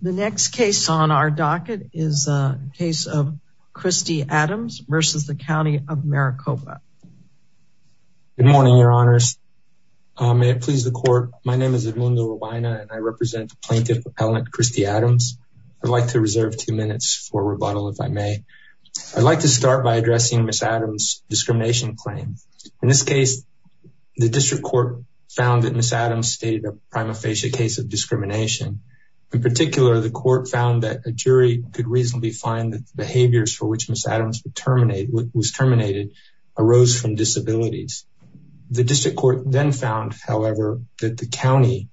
The next case on our docket is a case of Christy Adams versus the County of Maricopa. Good morning, your honors. May it please the court. My name is Edmundo Rubina, and I represent Plaintiff Appellant Christy Adams. I'd like to reserve two minutes for rebuttal if I may. I'd like to start by addressing Ms. Adams' discrimination claim. In this case, the district court found that Ms. Adams stated a prima facie case of discrimination. In particular, the court found that a jury could reasonably find that the behaviors for which Ms. Adams was terminated arose from disabilities. The district court then found, however, that the county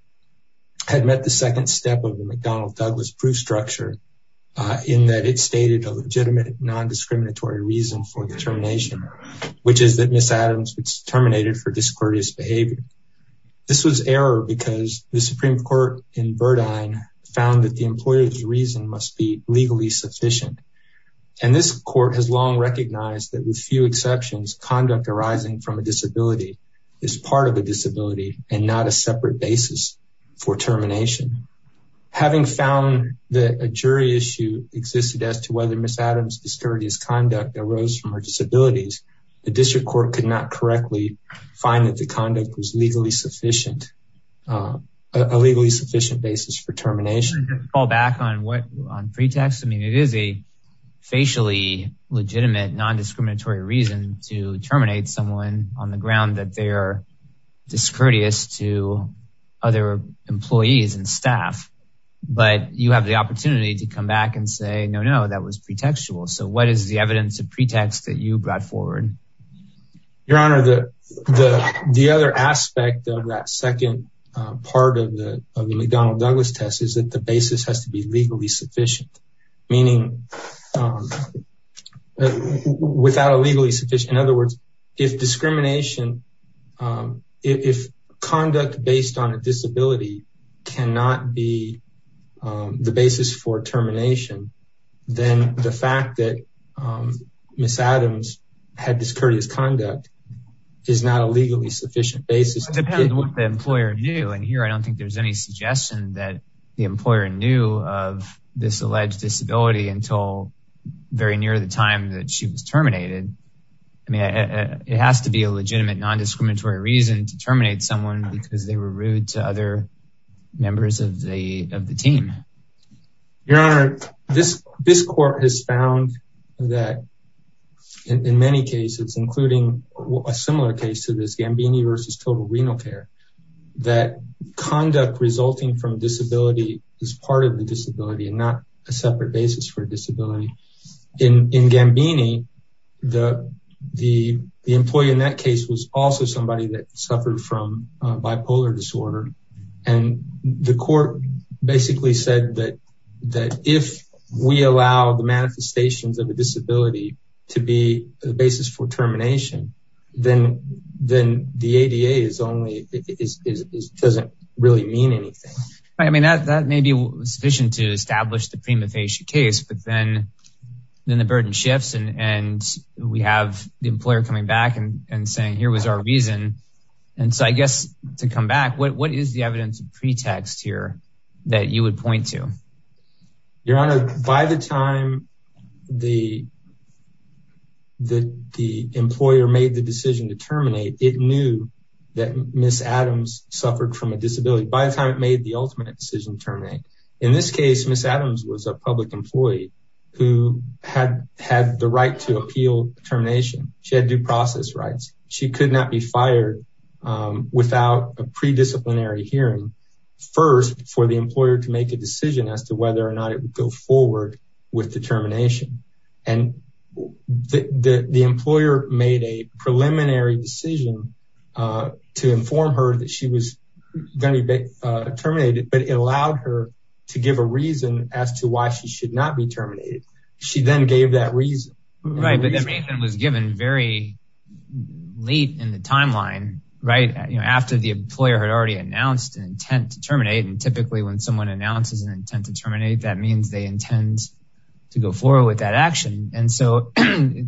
had met the second step of the McDonnell Douglas proof structure in that it stated a legitimate non-discriminatory reason for the termination, which is that Ms. Adams was terminated for discourteous behavior. This was error because the Supreme Court in Verdine found that the employer's reason must be legally sufficient, and this court has long recognized that with few exceptions, conduct arising from a disability is part of a disability and not a separate basis for termination. Having found that a jury issue existed as to whether Ms. Adams' discourteous conduct arose from her disabilities, the district court could not correctly find that the conduct was a legally sufficient basis for termination. I'll call back on pretext. I mean, it is a facially legitimate non-discriminatory reason to terminate someone on the ground that they are discourteous to other employees and staff, but you have the opportunity to come back and say, no, no, that was pretextual. So, what is the evidence of pretext that you brought forward? Your Honor, the other aspect of that second part of the McDonnell Douglas test is that the basis has to be legally sufficient, meaning without a legally sufficient, in other words, if discrimination, um, if conduct based on a disability cannot be the basis for termination, then the fact that Ms. Adams had discourteous conduct is not a legally sufficient basis. It depends on what the employer knew, and here I don't think there's any suggestion that the employer knew of this alleged disability until very near the time that she was terminated. I mean, it has to be a legitimate non-discriminatory reason to terminate someone because they were rude to other members of the team. Your Honor, this court has found that in many cases, including a similar case to this, Gambini versus Total Renal Care, that conduct resulting from disability is part of the the employee in that case was also somebody that suffered from bipolar disorder, and the court basically said that if we allow the manifestations of a disability to be the basis for termination, then the ADA doesn't really mean anything. I mean, that may be sufficient to establish a prima facie case, but then the burden shifts and we have the employer coming back and saying, here was our reason, and so I guess to come back, what is the evidence of pretext here that you would point to? Your Honor, by the time the employer made the decision to terminate, it knew that Ms. Adams suffered from a disability. By the ultimate decision to terminate. In this case, Ms. Adams was a public employee who had the right to appeal termination. She had due process rights. She could not be fired without a pre-disciplinary hearing first for the employer to make a decision as to whether or not it would go forward with the termination, and the employer made a preliminary decision to inform her that she was going to be terminated, but it allowed her to give a reason as to why she should not be terminated. She then gave that reason. Right, but that reason was given very late in the timeline, right? You know, after the employer had already announced an intent to terminate, and typically when someone announces an intent to terminate, that means they intend to go forward with that action, and so it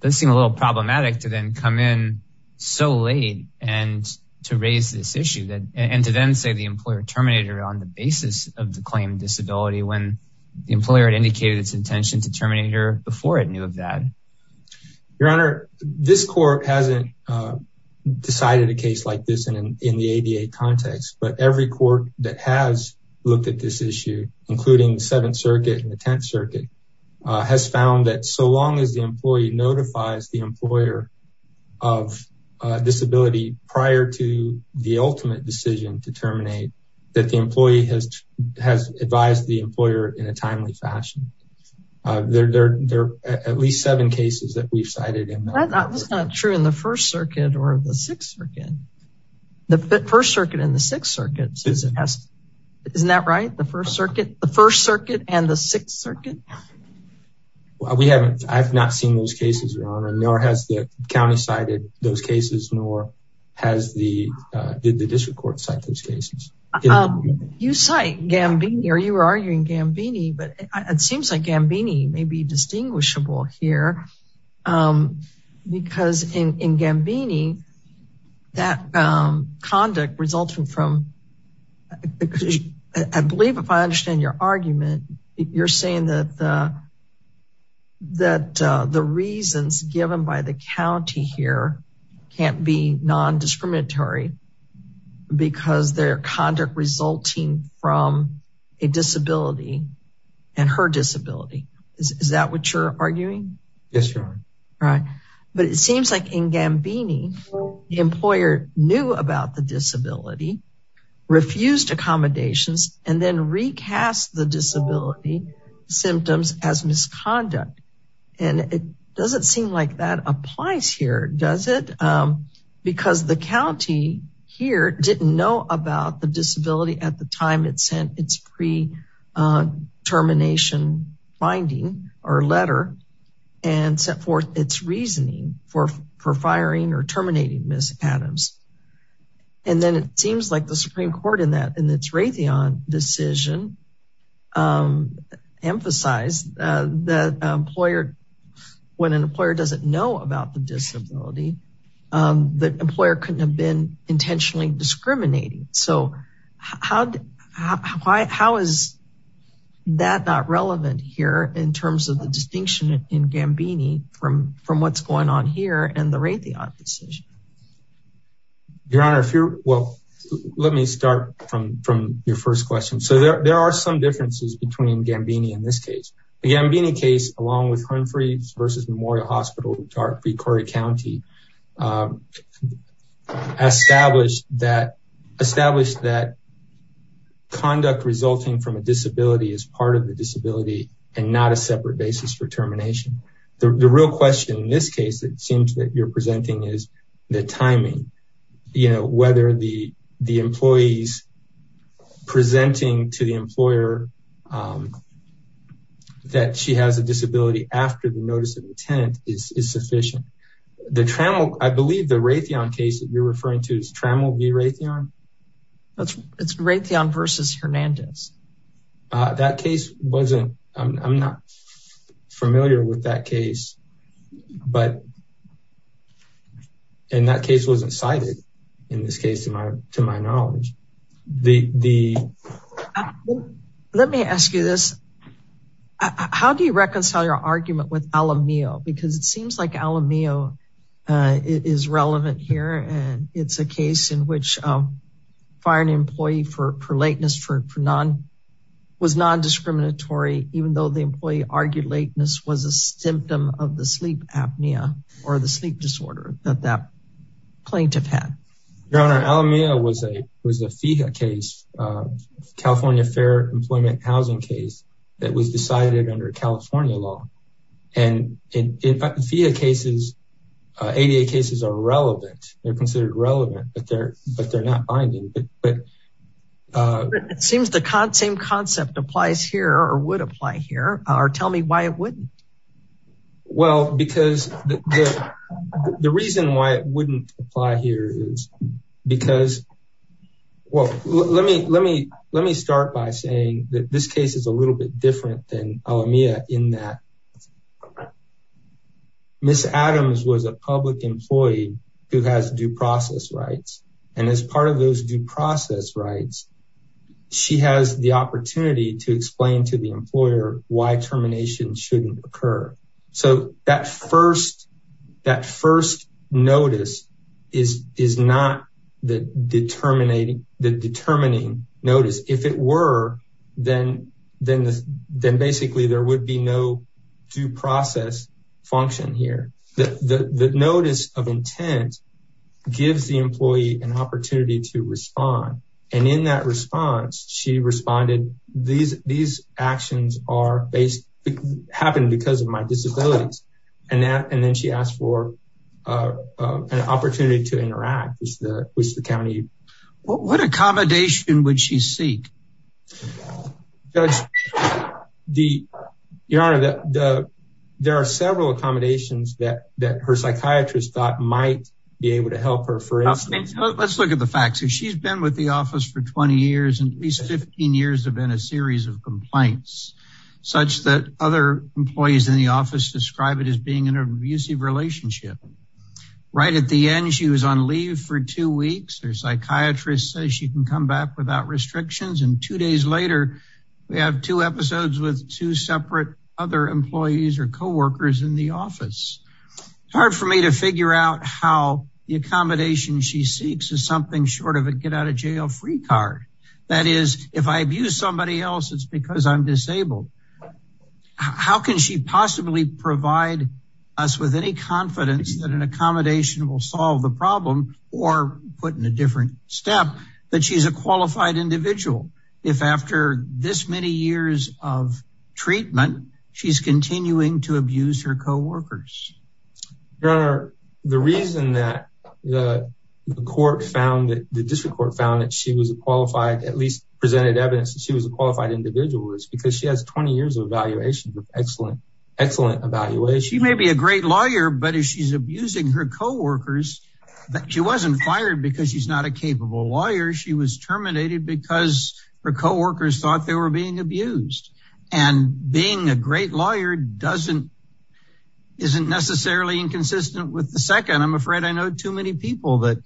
does seem a little problematic to then come in so late and to raise this issue, and to then say the employer terminated her on the basis of the claim of disability when the employer had indicated its intention to terminate her before it knew of that. Your Honor, this court hasn't decided a case like this in the ADA context, but every court that has looked at this issue, including the Seventh Circuit and the Tenth Circuit, has found that so long as the employee notifies the employer of disability prior to the ultimate decision to terminate, that the employee has advised the employer in a timely fashion. There are at least seven cases that we've cited in there. That's not true in the First Circuit or the Sixth Circuit. The First Circuit and the Sixth Circuit, isn't that right? The First Circuit and the Sixth Circuit? We haven't. I've not seen those cases, Your Honor, nor has the county cited those cases, nor did the district court cite those cases. You cite Gambini, or you were arguing Gambini, but it seems like Gambini may be distinguishable here because in Gambini, that conduct resulting from, I believe if I understand your argument, you're saying that the reasons given by the county here can't be non-discriminatory because their conduct resulting from a disability and her disability. Is that what you're arguing? Yes, Your Honor. Right. But it seems like in Gambini, the employer knew about the disability, refused accommodations, and then recast the disability symptoms as misconduct. And it doesn't seem like that sent its pre-termination binding or letter and set forth its reasoning for firing or terminating Ms. Adams. And then it seems like the Supreme Court in that decision emphasized that when an employer doesn't know about the disability, the employer couldn't have been intentionally discriminating. So how is that not relevant here in terms of the distinction in Gambini from what's going on here and the Raytheon decision? Your Honor, well, let me start from your first question. So there are some differences between Gambini in this case. The Gambini case, along with Humphreys v. Memorial Hospital v. Corey County, established that conduct resulting from a disability is part of the disability and not a separate basis for termination. The real question in this case, it seems that you're presenting is the timing. You know, whether the after the notice of intent is sufficient. I believe the Raytheon case that you're referring to is Trammell v. Raytheon? It's Raytheon v. Hernandez. That case wasn't, I'm not familiar with that case. And that case wasn't cited in this case to my knowledge. Let me ask you this. How do you reconcile your argument with Alamillo? Because it seems like Alamillo is relevant here. And it's a case in which firing an employee for lateness was non-discriminatory, even though the employee argued lateness was a symptom of the sleep apnea or the sleep disorder that that plaintiff had. Your Honor, Alamillo was a FIHA case, California Fair Employment Housing case that was decided under California law. And in FIHA cases, ADA cases are relevant. They're considered relevant, but they're not binding. But it seems the same concept applies here or would apply here. Or tell me why it wouldn't. Well, because the reason why it wouldn't apply here is because, well, let me start by saying that this case is a little bit different than Alamillo in that Ms. Adams was a public employee who has due process rights. And as part of those due process rights, she has the opportunity to explain to the employer why shouldn't occur. So that first notice is not the determining notice. If it were, then basically there would be no due process function here. The notice of intent gives the happened because of my disabilities. And then she asked for an opportunity to interact with the county. What accommodation would she seek? Your Honor, there are several accommodations that her psychiatrist thought might be able to help her. Let's look at the facts. She's been with the other employees in the office describe it as being an abusive relationship. Right at the end, she was on leave for two weeks. Her psychiatrist says she can come back without restrictions. And two days later, we have two episodes with two separate other employees or co-workers in the office. It's hard for me to figure out how the accommodation she seeks is something short of a get out of jail free card. That is, if I abuse somebody else, it's because I'm disabled. How can she possibly provide us with any confidence that an accommodation will solve the problem or put in a different step that she's a qualified individual? If after this many years of treatment, she's continuing to abuse her co-workers. Your Honor, the reason that the court found that the district court found that she was qualified, at least presented evidence she was a qualified individual is because she has 20 years of evaluation with excellent, excellent evaluation. She may be a great lawyer, but if she's abusing her co-workers, she wasn't fired because she's not a capable lawyer. She was terminated because her co-workers thought they were being abused. And being a great lawyer doesn't isn't necessarily inconsistent with the second. I'm afraid I know too many people that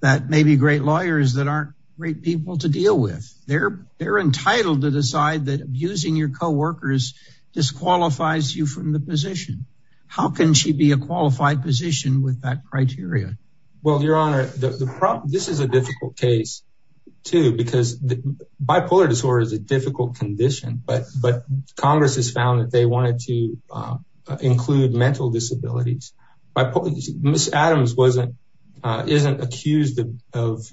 that may be great lawyers that aren't great people to deal with. They're entitled to decide that abusing your co-workers disqualifies you from the position. How can she be a qualified position with that criteria? Well, Your Honor, this is a difficult case, too, because bipolar disorder is a difficult condition. But Congress has found that they wanted to include mental disabilities. Ms. Adams isn't accused of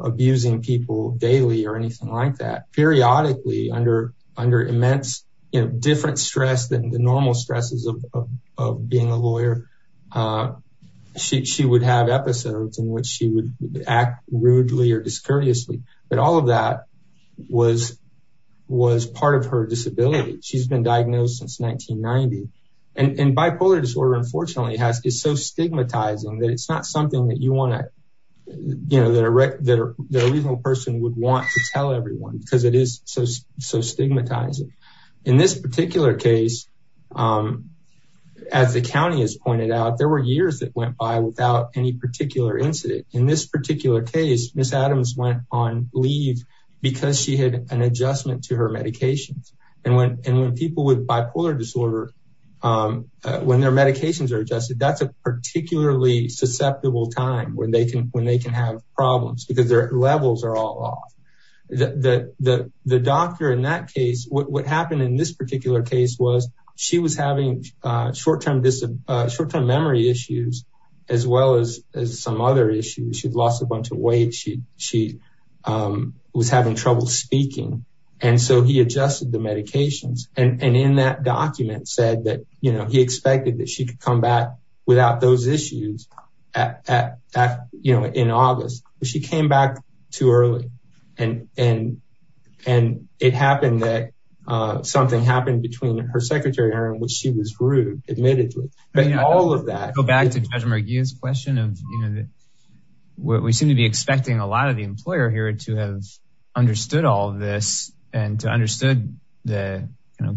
abusing people daily or anything like that. Periodically, under immense different stress than the normal stresses of being a lawyer, she would have episodes in which she would act rudely or discourteously. But all of that was was part of her disability. She's been diagnosed since 1990. And bipolar disorder, unfortunately, is so stigmatizing that it's not something that you want to, you know, that a reasonable person would want to tell everyone because it is so stigmatizing. In this particular case, as the county has pointed out, there were years that went by without any an adjustment to her medications. And when and when people with bipolar disorder, when their medications are adjusted, that's a particularly susceptible time when they can when they can have problems because their levels are all off. The doctor in that case, what happened in this particular case was she was having short term memory issues, as well as some other issues, she'd lost a bunch of weight, she she was having trouble speaking. And so he adjusted the medications. And in that document said that, you know, he expected that she could come back without those issues. At that, you know, in August, she came back too early. And, and, and it happened that something happened between her secretary Aaron, which she was rude, admitted to all of that, go back to judge McGee's question of, you know, what we seem to be expecting a lot of the employer here to have understood all this, and to understood the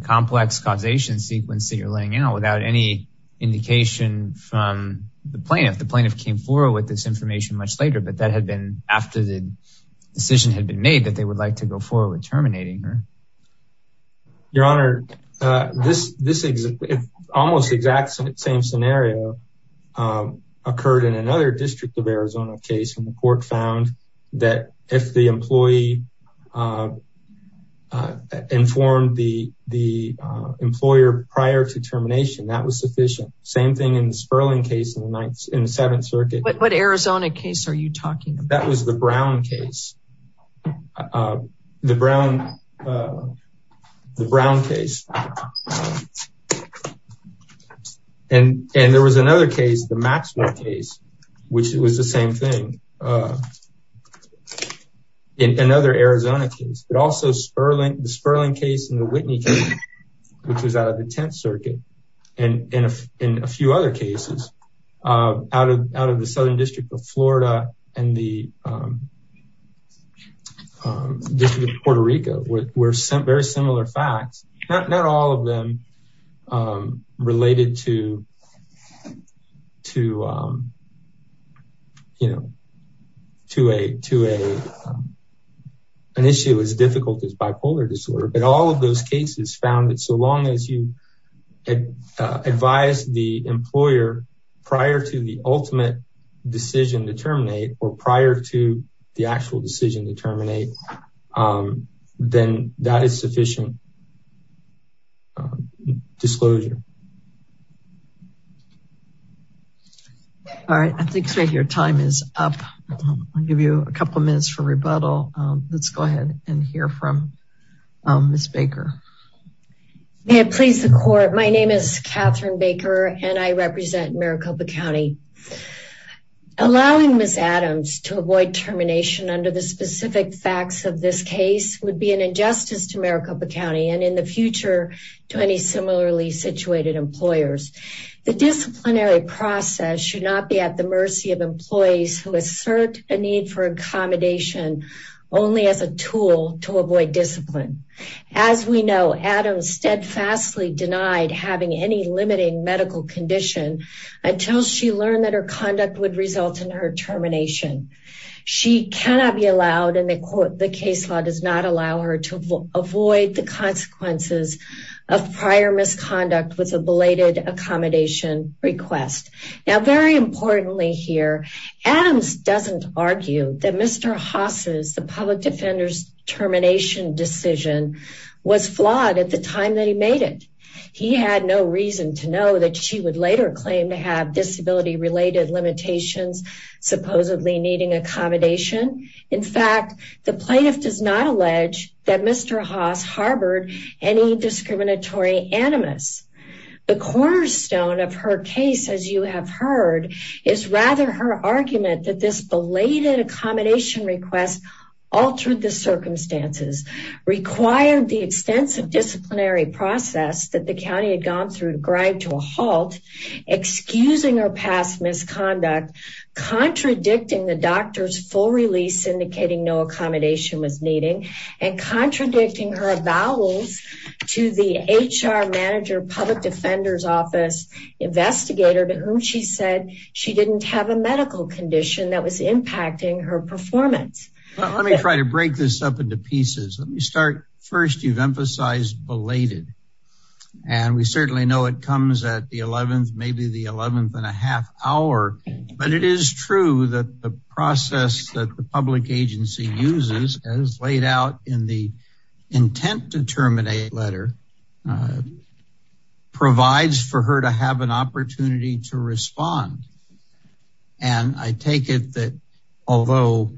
complex causation sequence that you're laying out without any indication from the plaintiff, the plaintiff came forward with this information much later, but that had been after the decision had been made that they would like to go forward terminating her. Your Honor, this, this is almost the exact same scenario occurred in another district of Arizona case, and the court found that if the employee informed the the employer prior to termination, that was sufficient. Same thing in the Sperling case in the ninth in the Seventh Circuit. What Arizona case are you talking about? That was the Brown, the Brown case. And, and there was another case, the Maxwell case, which it was the same thing. In another Arizona case, but also Sperling, the Sperling case and the Whitney case, which was out of the 10th Circuit. And in a few other cases, out of out of the southern district of Florida, and the Puerto Rico were sent very similar facts, not all of them related to, to, you know, to a to a an issue as difficult as bipolar disorder, but all of those cases found that so long as you advise the employer prior to the ultimate decision to terminate or prior to the actual decision to terminate, then that is sufficient disclosure. All right, I think your time is up. I'll give you a couple minutes for rebuttal. Let's go ahead and hear from Ms. Baker. May it please the court. My name is Catherine Baker, and I represent Maricopa County. Allowing Ms. Adams to avoid termination under the specific facts of this case would be an injustice to Maricopa County and in the future to any similarly situated employers. The disciplinary process should not be at the only as a tool to avoid discipline. As we know, Adams steadfastly denied having any limiting medical condition until she learned that her conduct would result in her termination. She cannot be allowed, and the court, the case law does not allow her to avoid the consequences of prior misconduct with a belated accommodation request. Now, very importantly here, Adams doesn't argue that Mr. Haas's, the public defender's termination decision was flawed at the time that he made it. He had no reason to know that she would later claim to have disability related limitations supposedly needing accommodation. In fact, the plaintiff does not allege that Mr. Haas harbored any discriminatory animus. The cornerstone of her case, as you have heard, is rather her argument that this belated accommodation request altered the circumstances, required the extensive disciplinary process that the county had gone through to grind to a halt, excusing her past misconduct, contradicting the doctor's full release indicating no accommodation was needing, and contradicting her avowals to the HR manager public defender's office investigator to whom she said she didn't have a medical condition that was impacting her performance. Let me try to break this up into pieces. Let me start. First, you've emphasized belated, and we certainly know it comes at the 11th, maybe the 11th and a half hour, but it is true that the process that the public agency uses as laid out in the intent to terminate letter provides for her to have an opportunity to respond. I take it that although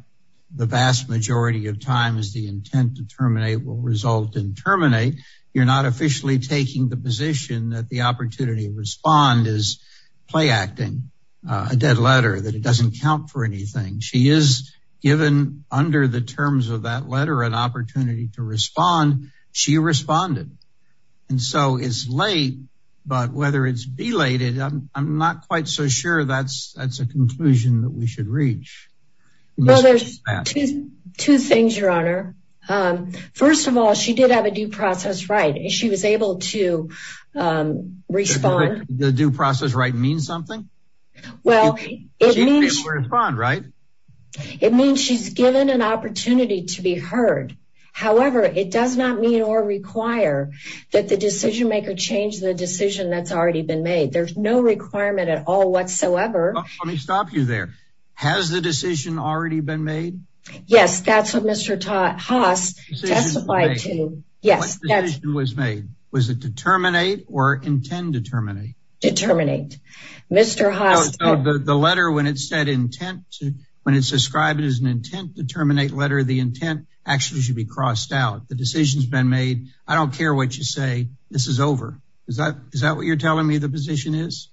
the vast majority of times the intent to terminate will result in terminate, you're not officially taking the position that the opportunity to respond is play acting, a dead letter, that it doesn't count for anything. She is given under the terms of that letter an opportunity to respond. She responded, and so it's late, but whether it's belated, I'm not quite so sure that's a conclusion that we should reach. Well, there's two things, your honor. First of all, she did have a due process right. She was able to respond. The due process right means something? Well, it means she's given an opportunity to be heard. However, it does not mean or require that the decision maker change the decision that's already been made. There's no requirement at all whatsoever. Let me stop you there. Has the decision already been made? Yes, that's what Mr. Haas testified to. What decision was made? Was it to terminate or intend to terminate? Determinate. Mr. Haas. The letter when it said intent, when it's described as an intent to terminate letter, the intent actually should be crossed out. The decision's been made. I don't care what you say. This is over. Is that what you're telling me the position is?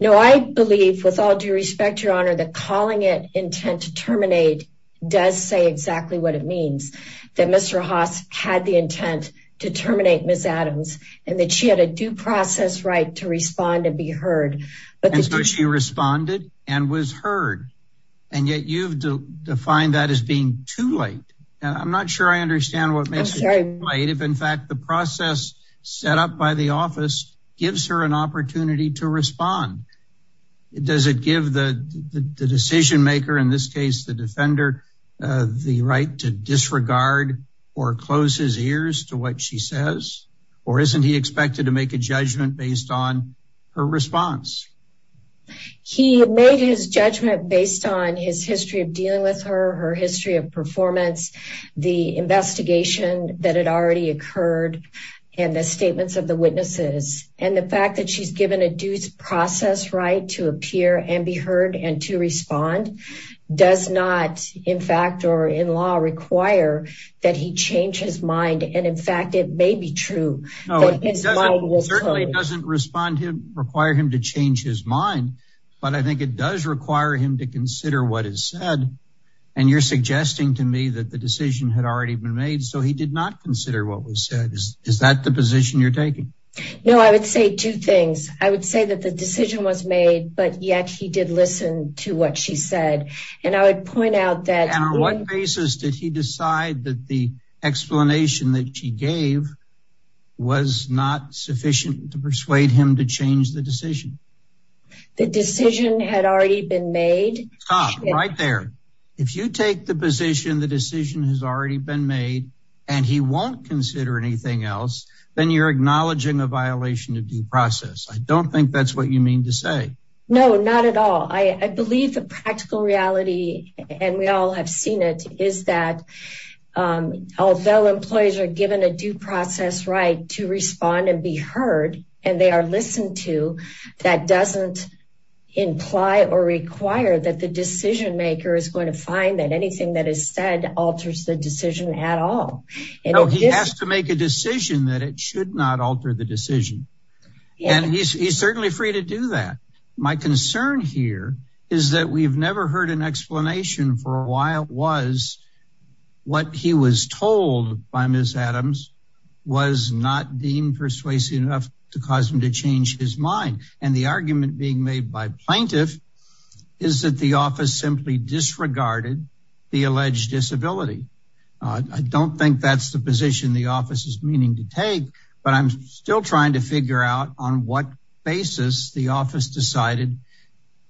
No, I believe with all due respect, your honor, that calling it intent to terminate does say exactly what it means. That Mr. Haas had the intent to terminate Ms. Adams and that she had a due process right to respond and be heard. And so she responded and was heard. And yet you've defined that as being too late. And I'm not sure I understand what makes it too late if in fact the process set up by the office gives her an opportunity to respond. Does it give the decision maker, in this case the defender, the right to disregard or close his ears to what she says? Or isn't he expected to make a judgment based on her response? He made his judgment based on his history of dealing with her, her history of performance, the investigation that had already occurred, and the statements of the witnesses. And the fact that she's given a due process right to appear and be heard and to respond does not, in fact, or in law require that he change his mind. And in fact, it may be true. No, it certainly doesn't require him to change his mind. But I think it does require him to consider what is said. And you're suggesting to me that the decision had already been made, so he did not consider what was said. Is that the position you're taking? No, I would say two things. I would say that the decision was made, but yet he did listen to what she said. And I would point out that... And on what basis did he decide that the not sufficient to persuade him to change the decision? The decision had already been made. Right there. If you take the position, the decision has already been made, and he won't consider anything else, then you're acknowledging a violation of due process. I don't think that's what you mean to say. No, not at all. I believe the practical reality, and we all have seen it, is that although employees are given a due process right to respond and be heard, and they are listened to, that doesn't imply or require that the decision maker is going to find that anything that is said alters the decision at all. No, he has to make a decision that it should not alter the decision. And he's certainly free to do that. My concern here is that we've never heard an explanation for why it was what he was told by Ms. Adams was not deemed persuasive enough to cause him to change his mind. And the argument being made by plaintiff is that the office simply disregarded the alleged disability. I don't think that's the position the office is meaning to take, but I'm still trying to figure out on what basis the office decided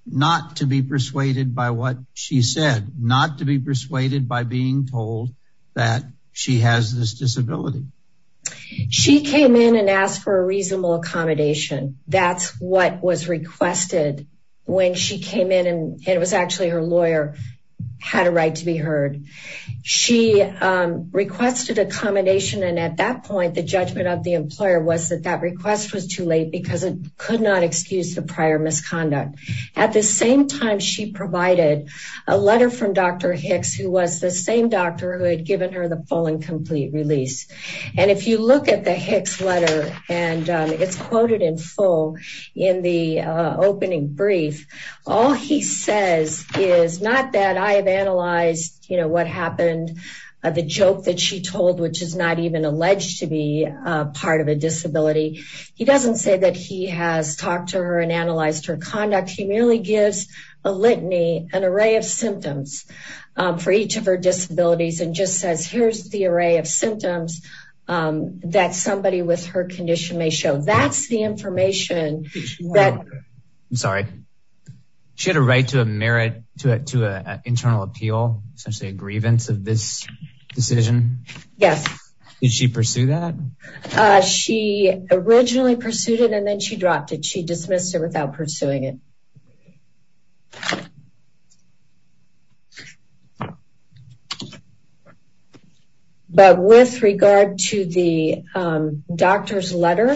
not to be persuaded by what she said, not to be persuaded by being told that she has this disability. She came in and asked for a reasonable accommodation. That's what was requested when she came in, and it was actually her lawyer had a right to be heard. She requested accommodation, and at that point, the judgment of the employer was that that request was too late because it could not excuse the prior misconduct. At the same time, she provided a letter from Dr. Hicks, who was the same doctor who had given her the full and complete release. And if you look at the Hicks letter, and it's quoted in full in the opening brief, all he says is not that I have analyzed, you know, what happened, the joke that she told, which is not alleged to be part of a disability. He doesn't say that he has talked to her and analyzed her conduct. He merely gives a litany, an array of symptoms for each of her disabilities, and just says here's the array of symptoms that somebody with her condition may show. That's the information that... I'm sorry. She had a right to a merit, to an internal appeal, essentially a grievance of this decision. Yes. Did she pursue that? She originally pursued it, and then she dropped it. She dismissed it without pursuing it. But with regard to the doctor's letter,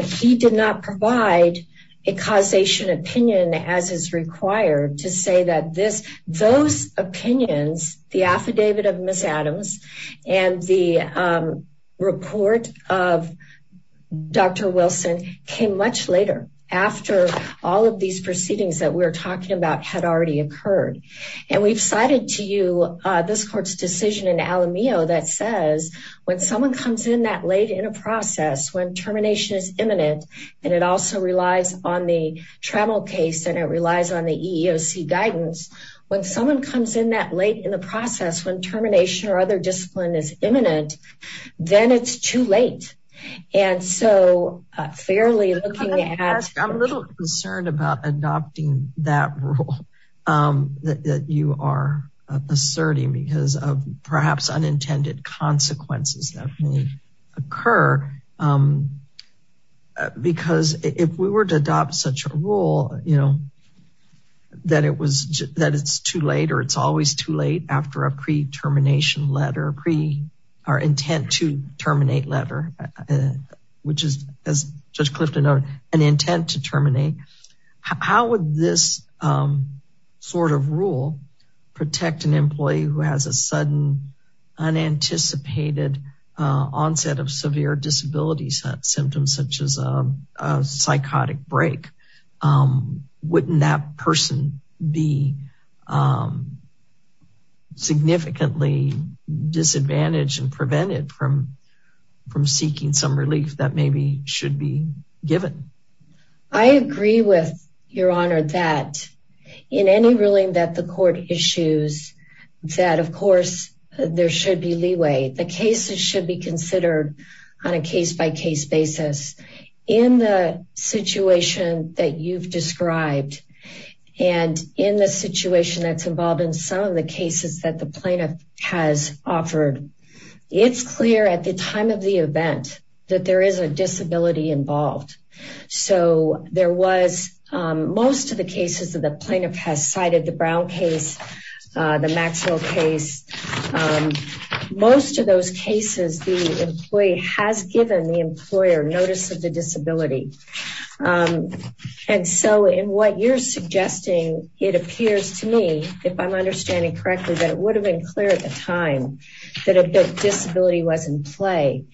he did not provide a causation opinion as is required to say that this, those opinions, the affidavit of Ms. Adams and the report of Dr. Wilson came much later, after all of these proceedings that we're talking about had already occurred. And we've cited to you this court's decision in Alamillo that says when someone comes in that late in a process, when termination is imminent, and it also relies on the travel case and it relies on the EEOC guidance, when someone comes in that late in the process, when termination or other discipline is imminent, then it's too late. And so fairly looking at... I'm a little concerned about adopting that rule that you are asserting because of unintended consequences that may occur. Because if we were to adopt such a rule, that it's too late or it's always too late after a pre-termination letter, or intent to terminate letter, which is, as Judge Clifton noted, an intent to terminate, how would this sort of rule protect an employee who has a sudden unanticipated onset of severe disability symptoms, such as a psychotic break? Wouldn't that person be significantly disadvantaged and prevented from seeking some relief that maybe should be given? I agree with Your Honor that in any ruling that the court issues, that of course, there should be leeway. The cases should be considered on a case-by-case basis. In the situation that you've described, and in the situation that's involved in some of the cases that the plaintiff has cited, so there was most of the cases that the plaintiff has cited, the Brown case, the Maxwell case, most of those cases, the employee has given the employer notice of the disability. And so in what you're suggesting, it appears to me, if I'm understanding correctly, that it would have been clear at the time that a disability was in play.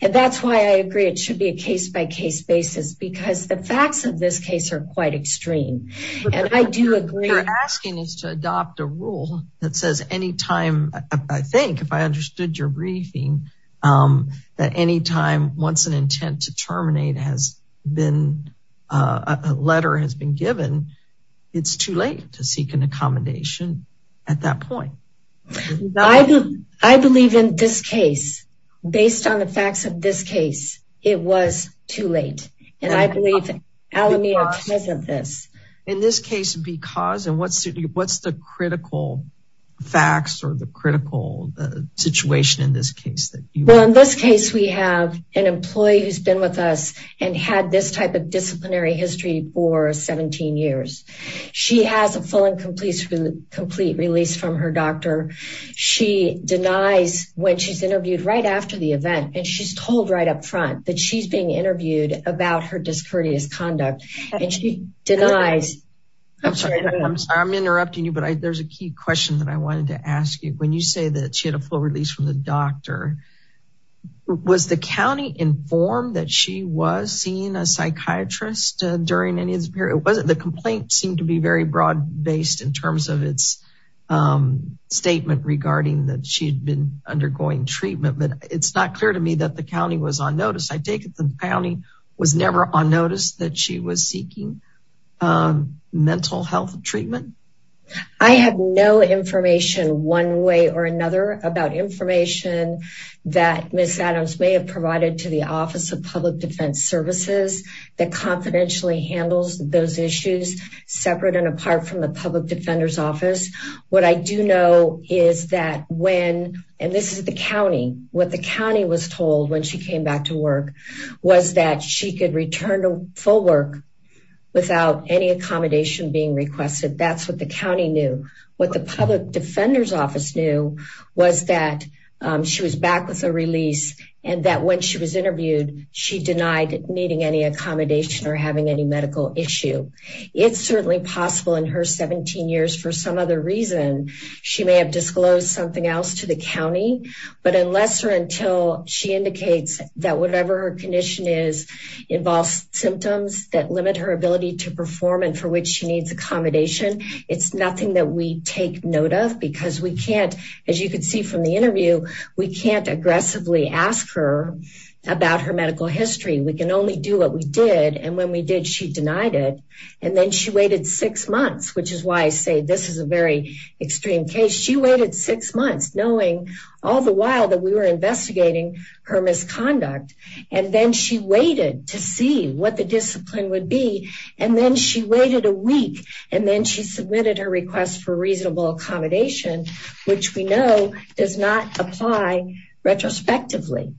And that's why I agree, it should be a case-by-case basis, because the facts of this case are quite extreme. You're asking us to adopt a rule that says any time, I think, if I understood your briefing, that any time once an intent to terminate has been, a letter has been given, it's too late to seek an accommodation at that point. I believe in this case, based on the facts of this case, it was too late. And I believe Alameda is of this. In this case, because and what's the critical facts or the critical situation in this case? Well, in this case, we have an employee who's been with us and had this type of disciplinary history for 17 years. She has a full and complete release from her doctor. She denies when she's interviewed right after the event, and she's told right up front that she's being interviewed about her discourteous conduct. I'm interrupting you, but there's a key question that I wanted to ask you. When you say that she had a full release from the doctor, was the county informed that she was seeing a psychiatrist during any of this period? The complaint seemed to be very broad based in terms of its statement regarding that she had been undergoing treatment, but it's not clear to me that the county was on notice. I take it the county was never on notice that she was seeking mental health treatment? I have no information one way or another about information that Ms. Adams may have provided to the Office of Public Defense Services that confidentially handles those issues separate and apart from the Public Defender's Office. What I do know is that when, and this is the county, what the county was told when she came back to work was that she could return to full work without any accommodation being requested. That's what the county knew. What the Public Defender's Office knew was that she was back with a release and that when she was interviewed, she denied needing any accommodation or having any medical issue. It's certainly possible in her 17 years for some other reason, she may have disclosed something else to the county, but unless or until she indicates that whatever her condition is involves symptoms that limit her ability to perform and for which she needs accommodation, it's nothing that we take note of because we can't, as you can see from the interview, we can't aggressively ask her about her medical history. We can only do what we did, and when we did, she denied it, and then she waited six months, which is why I say this is a very extreme case. She waited six months knowing all the while that we were investigating her misconduct, and then she waited to see what the discipline would be, and then she waited a week, and then she submitted her request for reasonable accommodation, which we know does not apply retrospectively,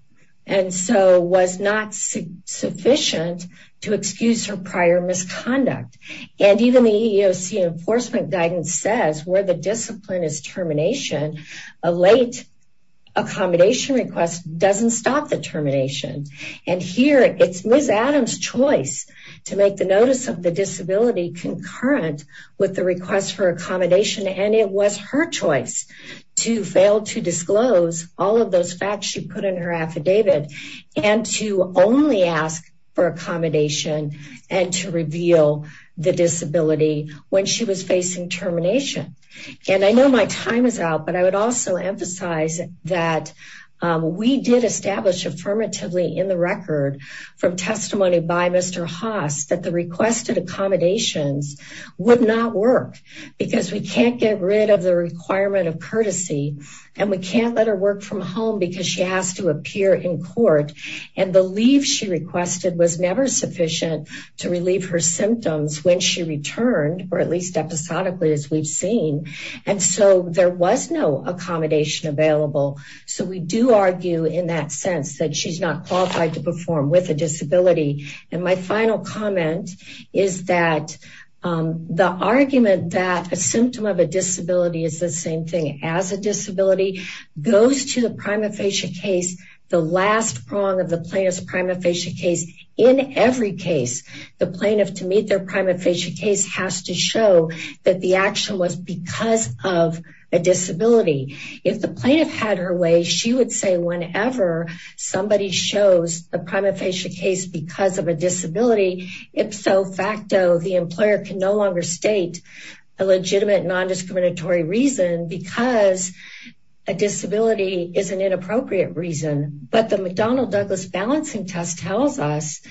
and so was not sufficient to excuse her prior misconduct, and even the EEOC enforcement guidance says where the discipline is termination, a late accommodation request doesn't stop the termination, and here it's Ms. Adams' choice to make the notice of the disability concurrent with the request for accommodation, and it was her choice to fail to disclose all of those facts she put in her affidavit and to only ask for accommodation and to reveal the disability when she was facing termination, and I know my time is out, but I would also emphasize that we did establish affirmatively in the record from testimony by Mr. Haas that the requested accommodations would not work because we can't get rid of the requirement of courtesy, and we can't let her work from home because she has to appear in court, and the leave she requested was never sufficient to relieve her symptoms when she returned, or at least episodically as we've seen, and so there was no accommodation available, so we do argue in that sense that she's not qualified to perform with a disability, and my final comment is that the argument that a symptom of a disability is the same thing as a disability goes to the prima facie case, the last prong of the plaintiff's prima facie case. In every case, the plaintiff to meet their prima facie case has to show that the action was because of a disability. If the plaintiff had her way, she would say whenever somebody shows the prima facie case that it was because of a disability, ipso facto, the employer can no longer state a legitimate non-discriminatory reason because a disability is an inappropriate reason, but the McDonnell-Douglas balancing test tells us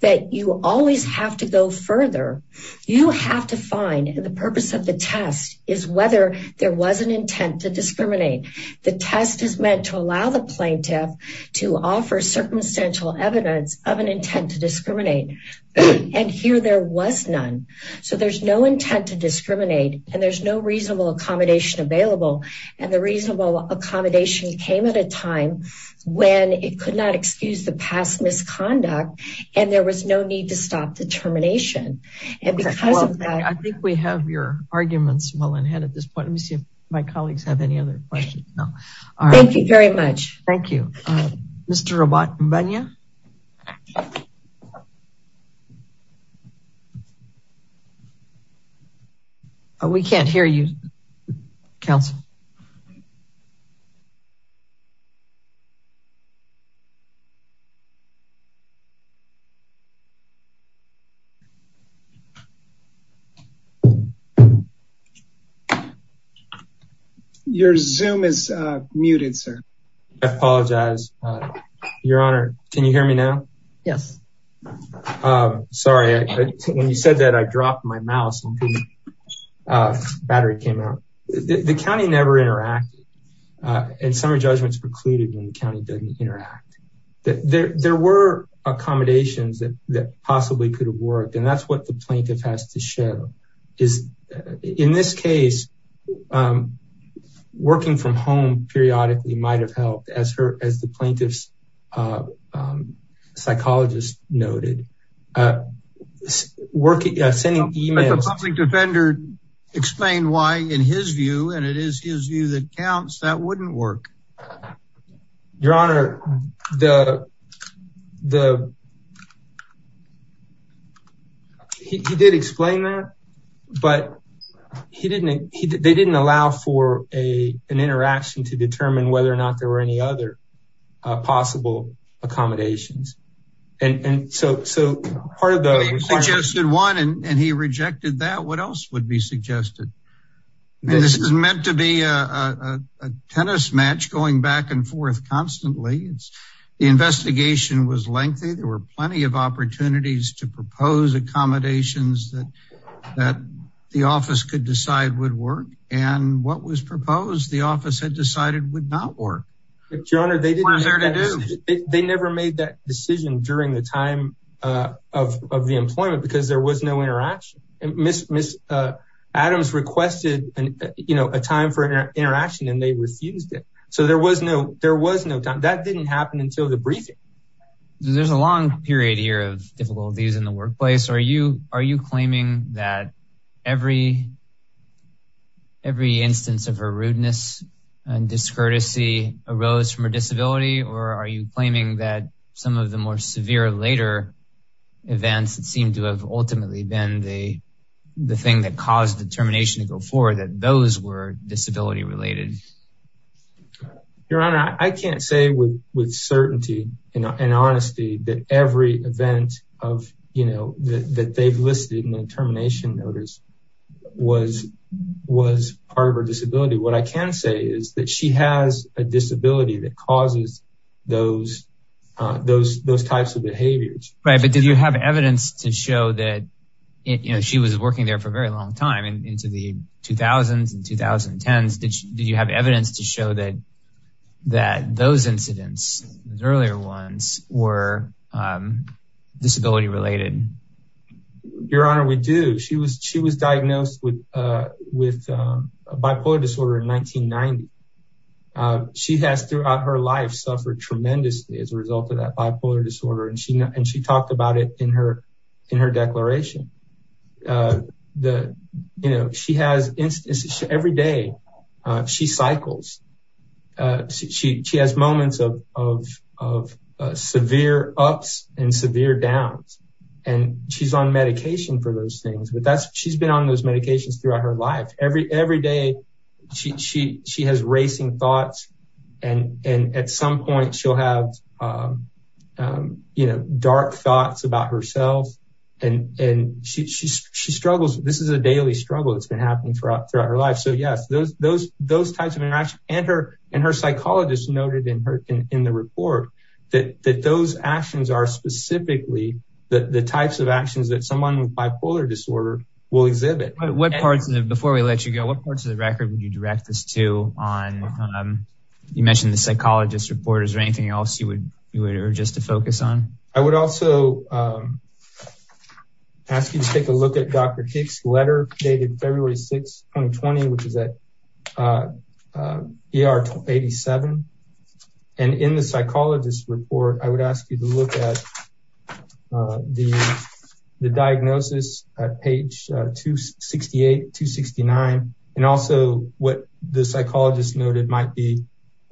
that you always have to go further. You have to find the purpose of the test is whether there was an intent to discriminate. The test is meant to to offer circumstantial evidence of an intent to discriminate, and here there was none, so there's no intent to discriminate, and there's no reasonable accommodation available, and the reasonable accommodation came at a time when it could not excuse the past misconduct, and there was no need to stop the termination, and because of that, I think we have your arguments well ahead at this point. Let me see if my colleagues have any other questions. Thank you very much. Thank you. Mr. Rabat Mbanya. We can't hear you, counsel. Your zoom is muted, sir. I apologize. Your honor, can you hear me now? Yes. Sorry. When you said I dropped my mouse, the battery came out. The county never interacted, and some judgments precluded when the county doesn't interact. There were accommodations that possibly could have worked, and that's what the plaintiff has to show. In this case, working from home periodically might have helped, as the plaintiff's psychologist noted. If a public defender explained why, in his view, and it is his view that counts, that wouldn't work. Your honor, he did explain that, but they didn't allow for an interaction to determine whether or not there were any other possible accommodations, and so part of the requirement. He suggested one, and he rejected that. What else would be suggested? This is meant to be a tennis match going back and forth constantly. The investigation was lengthy. There were plenty of opportunities to propose accommodations that the office could decide would work, and what was proposed, the office had decided would not work. Your honor, they never made that decision during the time of the employment, because there was no interaction. Adams requested a time for interaction, and they refused it, so there was no time. That didn't happen until the briefing. There's a long period of difficulties in the workplace. Are you claiming that every instance of her rudeness and discourtesy arose from her disability, or are you claiming that some of the more severe later events that seem to have ultimately been the thing that caused the termination to go forward, that those were disability related? Your honor, I can't say with certainty and honesty that every event that they've listed in the termination notice was part of her disability. What I can say is that she has a disability that causes those types of behaviors. Right, but did you have evidence to show that she was working there for a very long time, into the 2000s and 2010s? Did you have evidence that she was disability related? Your honor, we do. She was diagnosed with bipolar disorder in 1990. She has, throughout her life, suffered tremendously as a result of that bipolar disorder, and she talked about it in her declaration. Every day, she cycles. She has moments of severe ups and severe downs, and she's on medication for those things. She's been on those medications throughout her life. Every day, she has racing thoughts, and at some point, she'll have dark thoughts about herself. She struggles. This is a daily struggle that's and her psychologist noted in the report that those actions are specifically the types of actions that someone with bipolar disorder will exhibit. Before we let you go, what parts of the record would you direct this to? You mentioned the psychologist report. Is there anything else you would urge us to focus on? I would also ask you to take a look at Dr. Kick's letter dated February 6, 2020, which is at ER 87, and in the psychologist report, I would ask you to look at the diagnosis at page 268, 269, and also what the psychologist noted might be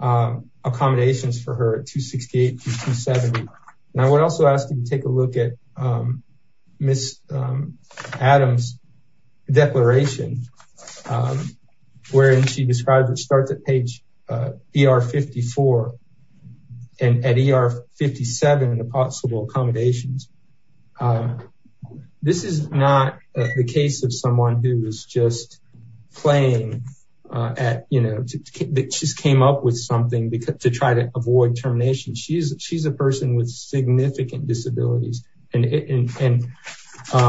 accommodations for her at 268 to 270. I would also ask you to take a look at Ms. Adams' declaration, wherein she described it starts at page ER 54 and at ER 57, the possible accommodations. This is not the case of someone who is just playing at, you know, that just came up with to try to avoid termination. She's a person with significant disabilities. I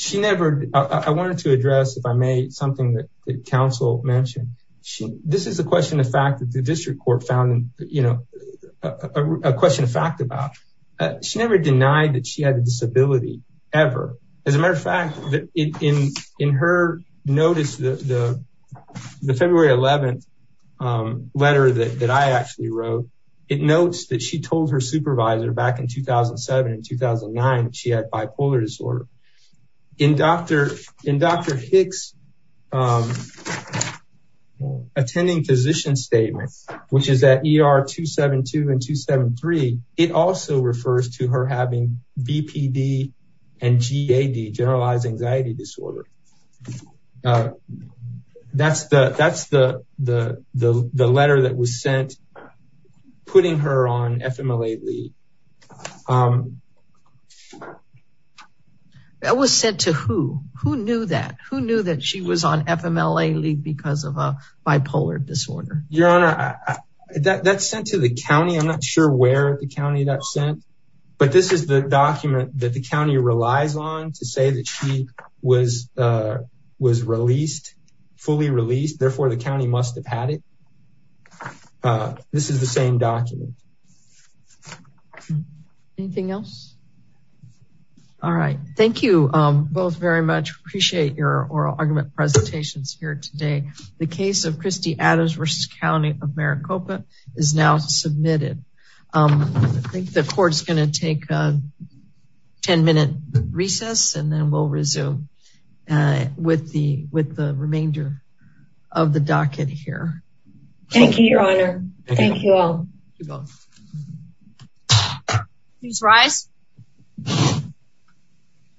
wanted to address, if I may, something that counsel mentioned. This is a question of fact that the district court found, you know, a question of fact about. She never denied that had a disability, ever. As a matter of fact, in her notice, the February 11th letter that I actually wrote, it notes that she told her supervisor back in 2007 and 2009 she had bipolar disorder. In Dr. Hicks' attending physician statement, which is at ER 272 and 273, it also refers to her having BPD and GAD, generalized anxiety disorder. That's the letter that was sent putting her on FMLA-Lead. That was sent to who? Who knew that? Who knew that she was on FMLA-Lead because of a county that sent. But this is the document that the county relies on to say that she was released, fully released. Therefore, the county must have had it. This is the same document. Anything else? All right. Thank you both very much. Appreciate your oral argument presentations here today. The case of Christie Adams versus County of Maricopa is now submitted. The court's going to take a 10-minute recess and then we'll resume with the remainder of the docket here. Thank you, your honor. Thank you all. Please rise.